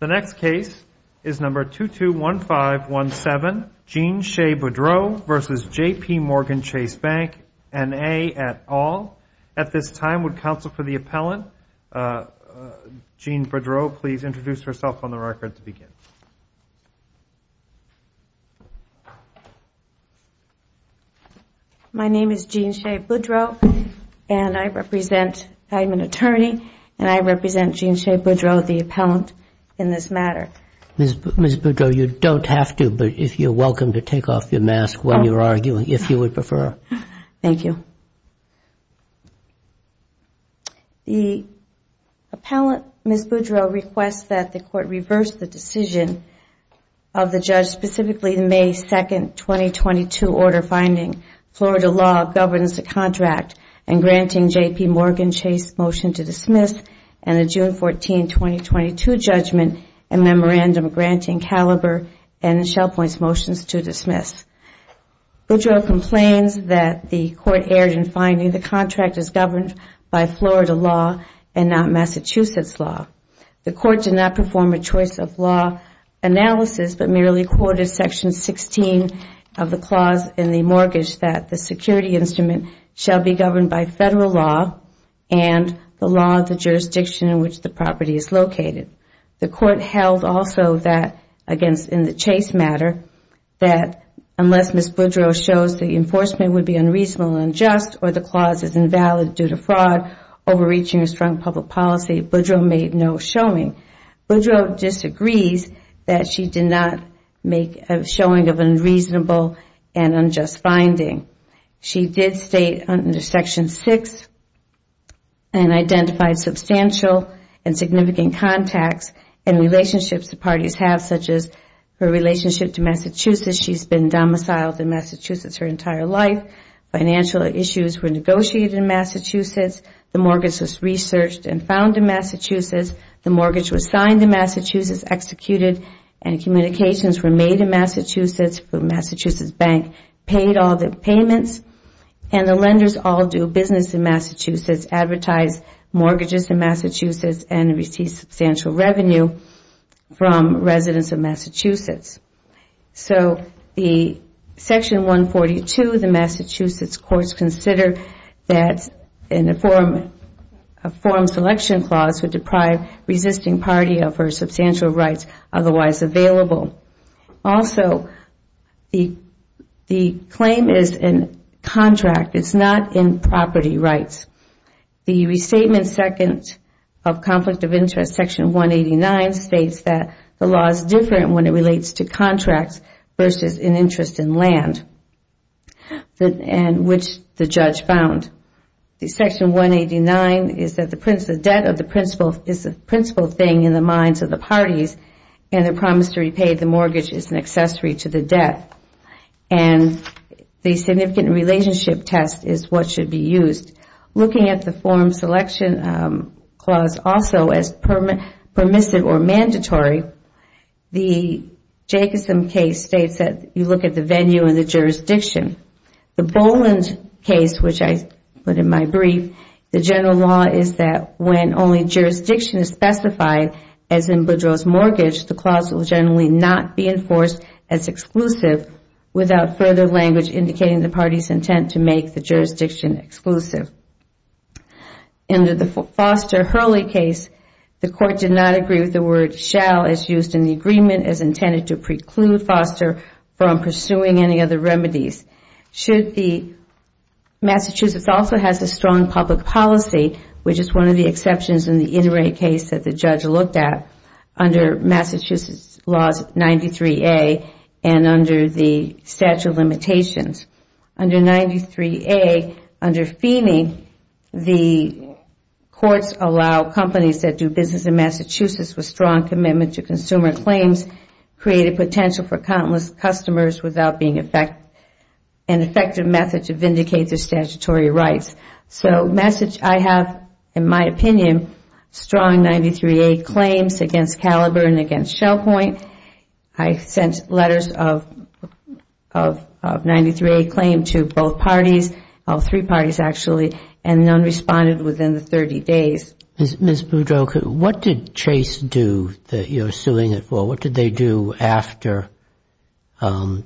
The next case is number 221517, Jean Shea Boudreau v. JPMorgan Chase Bank, N.A. et al. At this time, would counsel for the appellant, Jean Boudreau, please introduce herself on the record to begin. My name is Jean Shea Boudreau, and I represent, I'm an attorney, and I represent Jean Shea Boudreau, the appellant, in this matter. Ms. Boudreau, you don't have to, but you're welcome to take off your mask when you're arguing, if you would prefer. Thank you. The appellant, Ms. Boudreau, requests that the Court reverse the decision of the judge specifically in May 2, 2022, order finding Florida law governs the contract and granting JPMorgan Chase motion to dismiss, and the June 14, 2022, judgment and memorandum granting Caliber and Shell Point's motions to dismiss. Boudreau complains that the Court erred in finding the contract is governed by Florida law and not Massachusetts law. The Court did not perform a choice of law analysis, but merely quoted section 16 of the Constitution, that the security instrument shall be governed by Federal law and the law of the jurisdiction in which the property is located. The Court held also that, in the Chase matter, that unless Ms. Boudreau shows the enforcement would be unreasonable and unjust, or the clause is invalid due to fraud overreaching a strong public policy, Boudreau made no showing. Boudreau disagrees that she did not make a showing of unreasonable and unjust finding. She did state under section 6 and identified substantial and significant contacts and relationships the parties have, such as her relationship to Massachusetts. She has been domiciled in Massachusetts her entire life. Financial issues were negotiated in Massachusetts. The mortgage was researched and found in Massachusetts. The mortgage was signed in Massachusetts, executed, and communications were made in Massachusetts. The Massachusetts Bank paid all the payments. The lenders all do business in Massachusetts, advertise mortgages in Massachusetts, and receive substantial revenue from residents of Massachusetts. Section 142 of the Massachusetts Court considers that a form selection clause would deprive resisting parties of their substantial rights otherwise available. Also, the claim is in contract, it is not in property rights. The restatement of conflict of interest, section 189, states that the law is different when it relates to contracts versus an interest in land, which the judge found. Section 189 states that the debt is the principal thing in the minds of the parties and the promise to repay the mortgage is an accessory to the debt. The significant relationship test is what should be used. Looking at the form selection clause also as permissive or mandatory, the Jacobson case states that you look at the venue and the jurisdiction. The Boland case, which I put in my brief, the general law is that when only jurisdiction is specified, as in Boudreaux's mortgage, the clause will generally not be enforced as exclusive without further language indicating the party's intent to make the jurisdiction exclusive. Under the Foster-Hurley case, the court did not agree with the word shall as used in the agreement as intended to preclude Foster from pursuing any other remedies. Massachusetts also has a strong public policy, which is one of the exceptions in the Inouye case that the judge looked at under Massachusetts laws 93A and under the statute of limitations. Under 93A, under Feeney, the courts allow companies that do business in Massachusetts with strong commitment to consumer claims, create a potential for countless customers without being an effective method to vindicate their statutory rights. Massachusetts has, in my opinion, strong 93A claims against Caliber and against Shell Point. I sent letters of 93A claim to both parties, three parties actually, and none responded within the 30 days. Ms. Boudreaux, what did Chase do that you're suing it for? What did they do after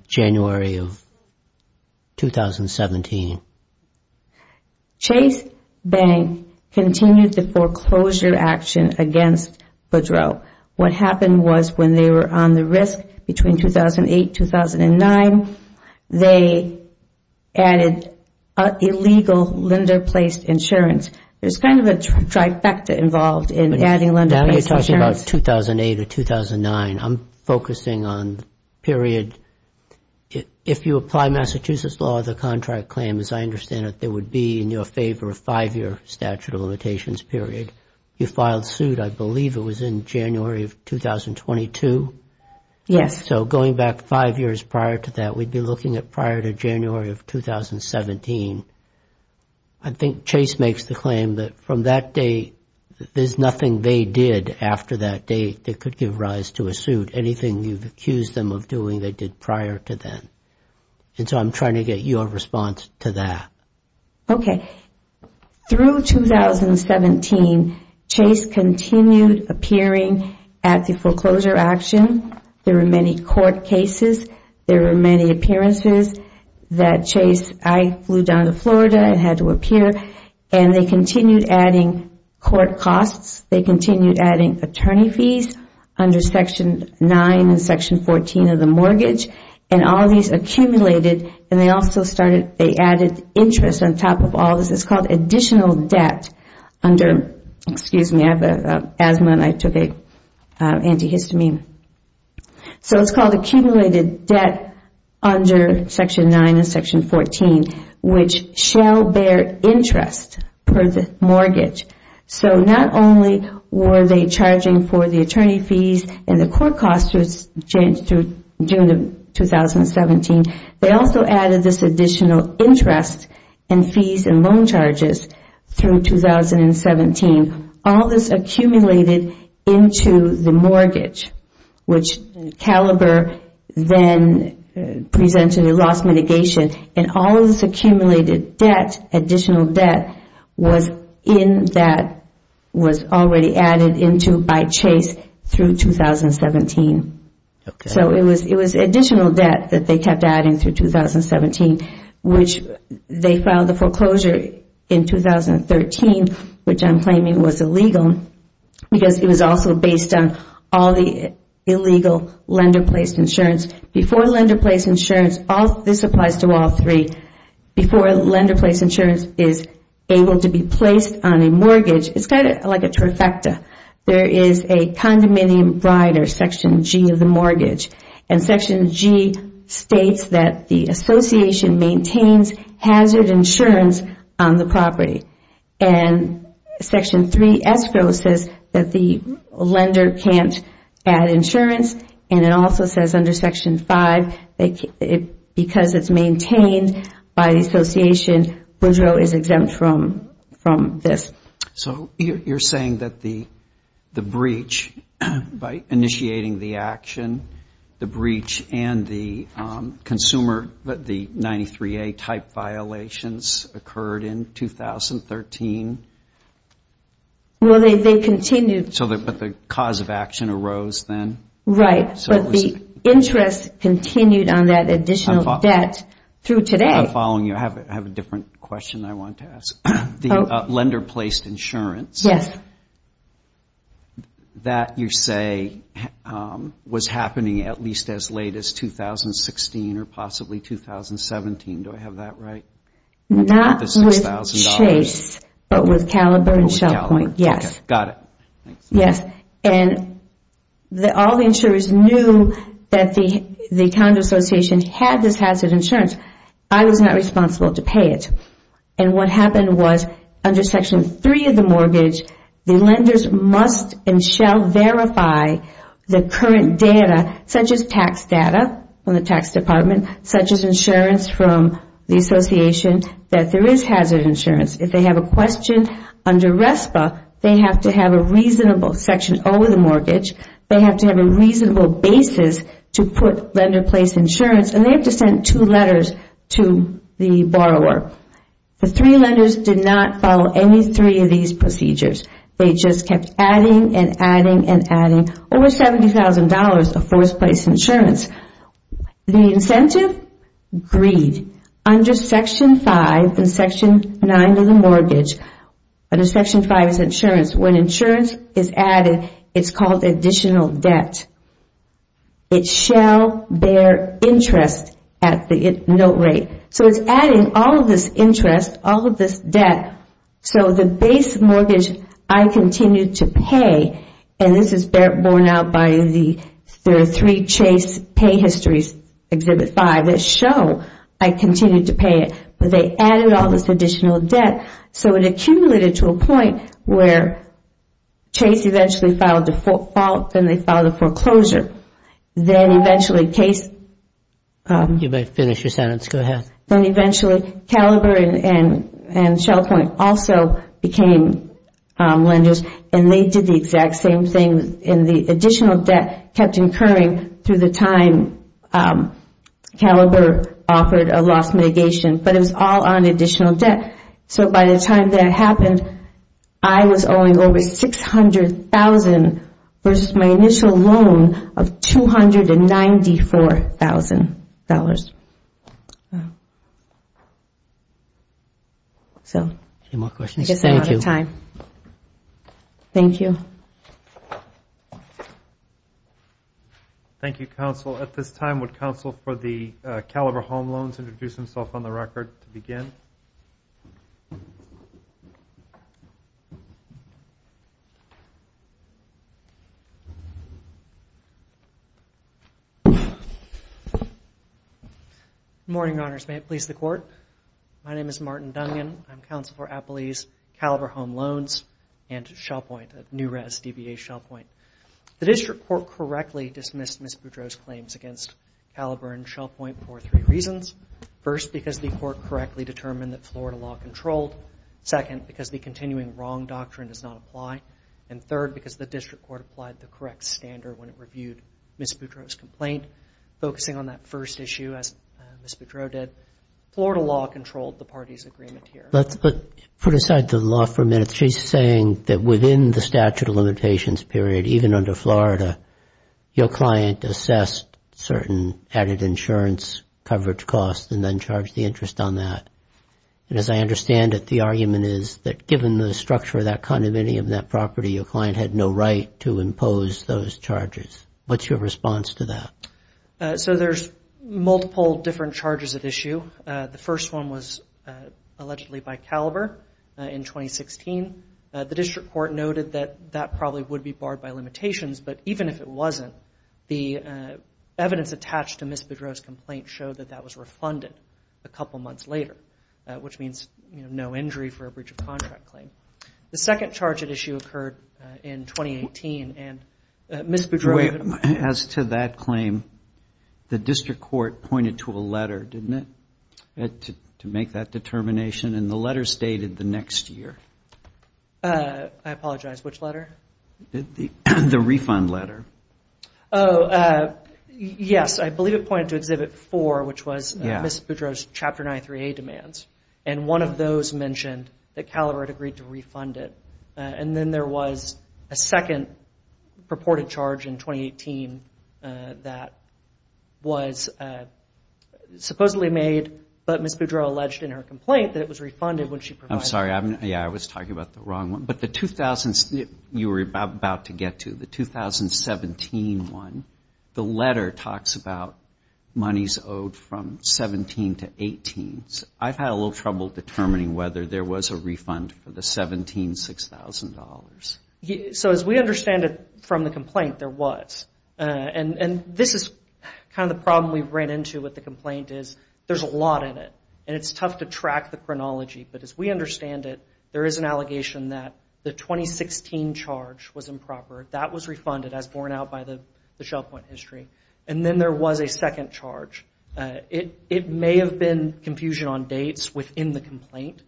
January of 2017? Chase Bank continued the foreclosure action against Boudreaux. What happened was when they were on the risk between 2008-2009, they added illegal lender placed insurance. There's kind of a trifecta involved in adding lender placed insurance. Now you're talking about 2008 or 2009, I'm focusing on period. If you apply Massachusetts law, the contract claim, as I understand it, there would be in your favor a five-year statute of limitations period. You filed suit, I believe it was in January of 2022? Yes. So going back five years prior to that, we'd be looking at prior to January of 2017. I think Chase makes the claim that from that day, there's nothing they did after that date that could give rise to a suit. Anything you've accused them of doing, they did prior to then. I'm trying to get your response to that. Okay. Through 2017, Chase continued appearing at the foreclosure action. There were many court cases. There were many appearances that Chase... I flew down to Florida, I had to appear. They continued adding court costs. They continued adding attorney fees under Section 9 and Section 14 of the mortgage. All of these accumulated and they also started... They added interest on top of all this. It's called additional debt under... Excuse me, I have asthma and I took antihistamine. So it's called accumulated debt under Section 9 and Section 14, which shall bear interest per the mortgage. So not only were they charging for the attorney fees and the court costs during 2017, they also added this additional interest and fees and loan charges through 2017. All this accumulated into the mortgage, which Caliber then presented a loss mitigation and all of this accumulated debt, additional debt, was in that... Was already added into by Chase through 2017. So it was additional debt that they kept adding through 2017, which they filed the foreclosure in 2013, which I'm claiming was illegal because it was also based on all the illegal lender-placed insurance. Before lender-placed insurance... This applies to all three. Before lender-placed insurance is able to be placed on a mortgage, it's kind of like a trifecta. There is a condominium brider, Section G of the mortgage. Section G states that the association maintains hazard insurance on the property. And Section 3S says that the lender can't add insurance, and it also says under Section 5, because it's maintained by the association, Woodrow is exempt from this. So you're saying that the breach, by initiating the action, the breach and the consumer, the consumer, 2013... Well, they continued... But the cause of action arose then? Right. But the interest continued on that additional debt through today. I'm following you. I have a different question I want to ask. The lender-placed insurance... Yes. That you say was happening at least as late as 2016 or possibly 2017. Do I have that right? Not with Chase, but with Caliber and Shell Point. Yes. Okay. Got it. Yes. And all the insurers knew that the account association had this hazard insurance. I was not responsible to pay it. And what happened was under Section 3 of the mortgage, the lenders must and shall verify the current data, such as tax data from the tax department, such as insurance from the association, that there is hazard insurance. If they have a question under RESPA, they have to have a reasonable... Section O of the mortgage, they have to have a reasonable basis to put lender-placed insurance, and they have to send two letters to the borrower. The three lenders did not follow any three of these procedures. They just kept adding and adding and adding, over $70,000 of first-place insurance. The incentive? Greed. Under Section 5 and Section 9 of the mortgage, under Section 5 is insurance. When insurance is added, it's called additional debt. It shall bear interest at the note rate. So it's adding all of this interest, all of this debt. So the base mortgage, I continued to pay, and this is borne out by the three Chase pay histories, Exhibit 5, that show I continued to pay it, but they added all this additional debt. So it accumulated to a point where Chase eventually filed a fault, then they filed a foreclosure. Then eventually Case... You may finish your sentence. Go ahead. Then eventually Caliber and Shell Point also became lenders, and they did the exact same thing in the additional debt, kept incurring through the time Caliber offered a loss mitigation, but it was all on additional debt. So by the time that happened, I was owing over $600,000 versus my initial loan of $294,000. So, I guess I'm out of time. Thank you. Thank you, Counsel. At this time, would Counsel for the Caliber home loans introduce himself on the record to begin? Good morning, Your Honors. May it please the Court. My name is Martin Dungan. I'm Counsel for Appley's Caliber home loans and Shell Point, New Rez, DBA, Shell Point. The District Court correctly dismissed Ms. Boudreaux's claims against Caliber and Shell Florida law controlled, second, because the continuing wrong doctrine does not apply, and third, because the District Court applied the correct standard when it reviewed Ms. Boudreaux's complaint, focusing on that first issue as Ms. Boudreaux did. Florida law controlled the parties' agreement here. Let's put aside the law for a minute. She's saying that within the statute of limitations period, even under Florida, your client assessed certain added insurance coverage costs and then charged the interest on that. And as I understand it, the argument is that given the structure of that condominium, that property, your client had no right to impose those charges. What's your response to that? So there's multiple different charges at issue. The first one was allegedly by Caliber in 2016. The District Court noted that that probably would be barred by limitations, but even if it wasn't, the evidence attached to Ms. Boudreaux's complaint showed that that was refunded a couple of months later, which means no injury for a breach of contract claim. The second charge at issue occurred in 2018, and Ms. Boudreaux- As to that claim, the District Court pointed to a letter, didn't it? To make that determination, and the letter stated the next year. I apologize, which letter? The refund letter. Oh, yes. I believe it pointed to Exhibit 4, which was Ms. Boudreaux's Chapter 93A demands. And one of those mentioned that Caliber had agreed to refund it. And then there was a second purported charge in 2018 that was supposedly made, but Ms. Boudreaux alleged in her complaint that it was refunded when she provided- I'm sorry. Yeah, I was talking about the wrong one. But the 2000s you were about to get to, the 2017 one, the letter talks about monies owed from 17 to 18. I've had a little trouble determining whether there was a refund for the 17, $6,000. So as we understand it from the complaint, there was. And this is kind of the problem we've ran into with the complaint is there's a lot in it, and it's tough to track the chronology. But as we understand it, there is an allegation that the 2016 charge was improper. That was refunded as borne out by the Shell Point history. And then there was a second charge. It may have been confusion on dates within the complaint.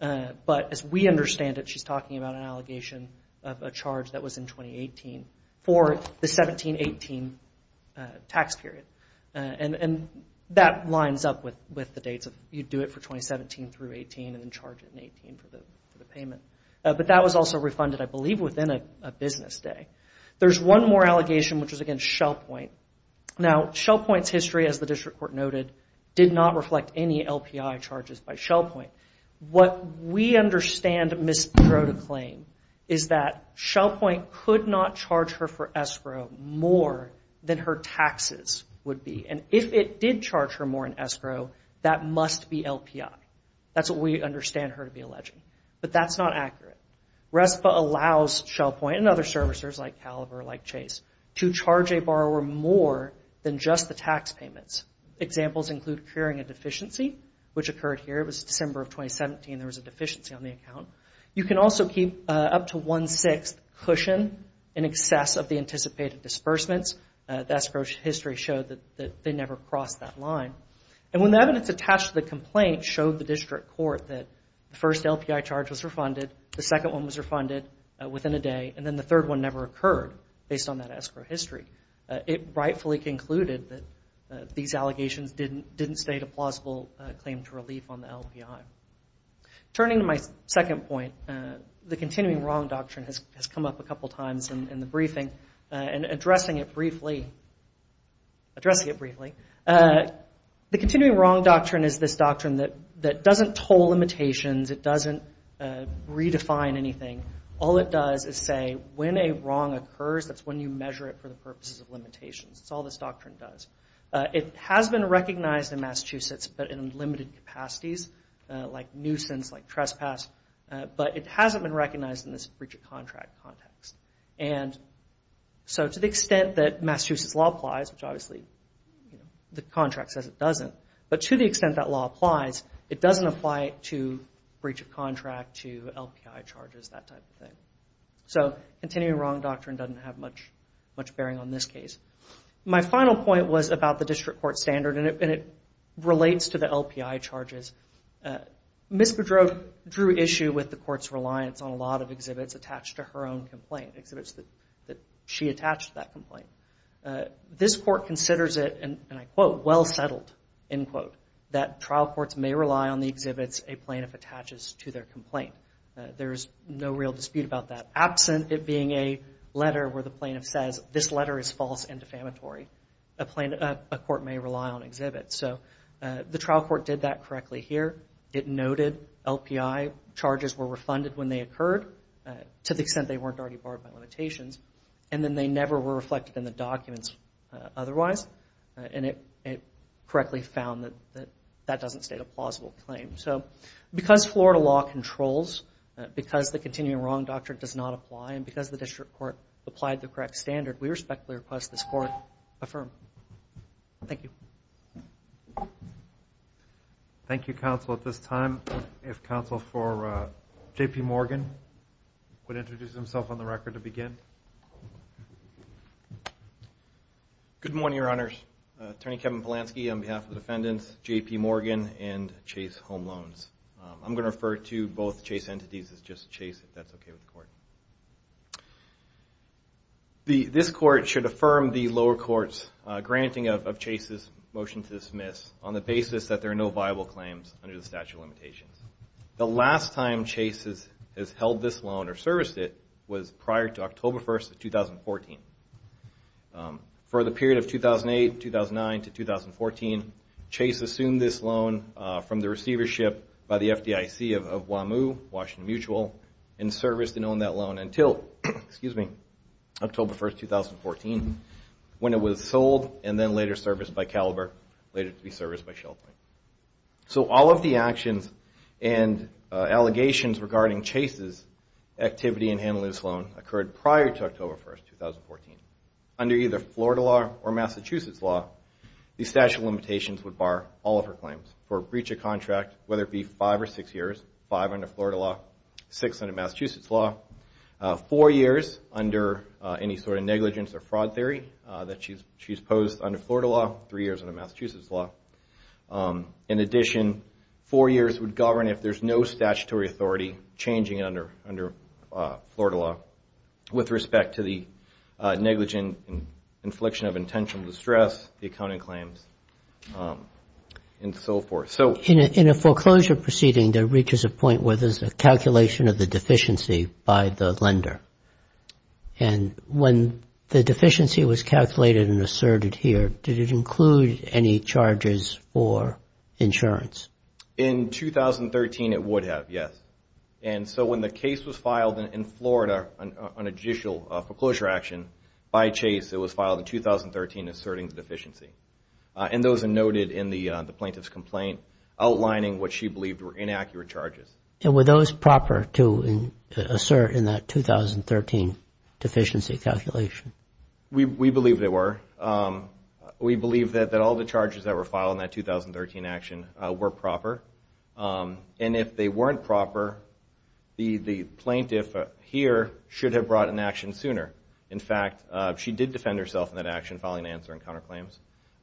But as we understand it, she's talking about an allegation of a charge that was in 2018 for the 17-18 tax period. And that lines up with the dates of, you do it for 2017 through 18 and then charge it in 18 for the payment. But that was also refunded, I believe, within a business day. There's one more allegation, which is against Shell Point. Now Shell Point's history, as the district court noted, did not reflect any LPI charges by Shell Point. What we understand Ms. Brode claim is that Shell Point could not charge her for escrow more than her taxes would be. And if it did charge her more in escrow, that must be LPI. That's what we understand her to be alleging. But that's not accurate. RESPA allows Shell Point and other servicers like Calaver, like Chase, to charge a borrower more than just the tax payments. Examples include incurring a deficiency, which occurred here. It was December of 2017. There was a deficiency on the account. You can also keep up to one-sixth cushion in excess of the anticipated disbursements. The escrow history showed that they never crossed that line. And when the evidence attached to the complaint showed the district court that the first LPI charge was refunded, the second one was refunded within a day, and then the third one never occurred based on that escrow history, it rightfully concluded that these allegations Turning to my second point, the Continuing Wrong Doctrine has come up a couple times in the briefing, and addressing it briefly, addressing it briefly, the Continuing Wrong Doctrine is this doctrine that doesn't toll limitations, it doesn't redefine anything. All it does is say when a wrong occurs, that's when you measure it for the purposes of limitations. That's all this doctrine does. It has been recognized in Massachusetts, but in limited capacities, like nuisance, like trespass, but it hasn't been recognized in this breach of contract context. So to the extent that Massachusetts law applies, which obviously the contract says it doesn't, but to the extent that law applies, it doesn't apply to breach of contract, to LPI charges, that type of thing. So Continuing Wrong Doctrine doesn't have much bearing on this case. My final point was about the district court standard, and it relates to the LPI charges. Ms. Boudreau drew issue with the court's reliance on a lot of exhibits attached to her own complaint, exhibits that she attached to that complaint. This court considers it, and I quote, well settled, end quote, that trial courts may rely on the exhibits a plaintiff attaches to their complaint. There's no real dispute about that, absent it being a letter where the plaintiff says this letter is false and defamatory, a court may rely on exhibits. So the trial court did that correctly here. It noted LPI charges were refunded when they occurred, to the extent they weren't already barred by limitations, and then they never were reflected in the documents otherwise, and it correctly found that that doesn't state a plausible claim. So because Florida law controls, because the Continuing Wrong Doctrine does not apply, and because the district court applied the correct standard, we respectfully request this court affirm. Thank you. Thank you, counsel. At this time, if counsel for J.P. Morgan would introduce himself on the record to begin. Good morning, your honors. Attorney Kevin Polanski on behalf of the defendants, J.P. Morgan, and Chase Home Loans. I'm going to refer to both Chase entities as just Chase, if that's okay with the court. This court should affirm the lower court's granting of Chase's motion to dismiss on the basis that there are no viable claims under the statute of limitations. The last time Chase has held this loan or serviced it was prior to October 1st of 2014. For the period of 2008, 2009 to 2014, Chase assumed this loan from the receivership by the FDIC of WAMU, Washington Mutual, and serviced and owned that loan until October 1st, 2014, when it was sold and then later serviced by Caliber, later to be serviced by Shell Point. So all of the actions and allegations regarding Chase's activity in handling this loan occurred prior to October 1st, 2014. Under either Florida law or Massachusetts law, the statute of limitations would bar all of her claims for breach of contract, whether it be five or six years, five under Florida law, six under Massachusetts law, four years under any sort of negligence or fraud theory that she's posed under Florida law, three years under Massachusetts law. In addition, four years would govern if there's no statutory authority changing it under Florida law with respect to the negligent infliction of intentional distress, the accounting claims, and so forth. In a foreclosure proceeding, there reaches a point where there's a calculation of the deficiency by the lender. And when the deficiency was calculated and asserted here, did it include any charges for insurance? In 2013, it would have, yes. And so when the case was filed in Florida on a judicial foreclosure action by Chase, it was filed in 2013 asserting the deficiency. And those are noted in the plaintiff's complaint, outlining what she believed were inaccurate charges. And were those proper to assert in that 2013 deficiency calculation? We believe they were. We believe that all the charges that were filed in that 2013 action were proper. And if they weren't proper, the plaintiff here should have brought an action sooner. In fact, she did defend herself in that action, filing an answer in counterclaims,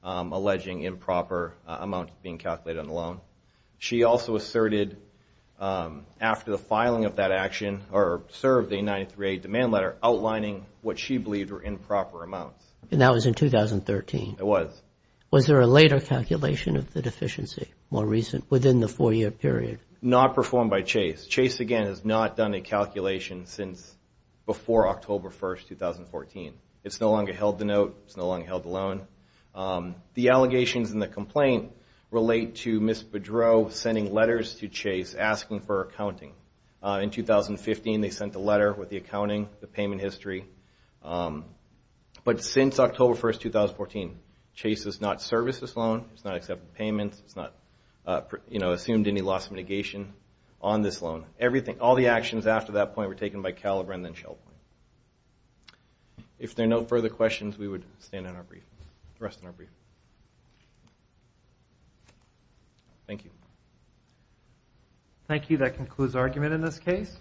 alleging improper amounts being calculated on the loan. She also asserted after the filing of that action, or served the 938 demand letter, outlining what she believed were improper amounts. And that was in 2013? It was. Was there a later calculation of the deficiency? More recent? Within the four-year period? Not performed by Chase. Chase, again, has not done a calculation since before October 1st, 2014. It's no longer held the note. It's no longer held the loan. The allegations in the complaint relate to Ms. Boudreaux sending letters to Chase asking for accounting. In 2015, they sent a letter with the accounting, the payment history. But since October 1st, 2014, Chase has not serviced this loan, has not accepted payments, has not assumed any loss of mitigation on this loan. All the actions after that point were taken by Caliber and then Shell Point. If there are no further questions, we would stand on our brief, rest on our brief. Thank you. Thank you. That concludes argument in this case.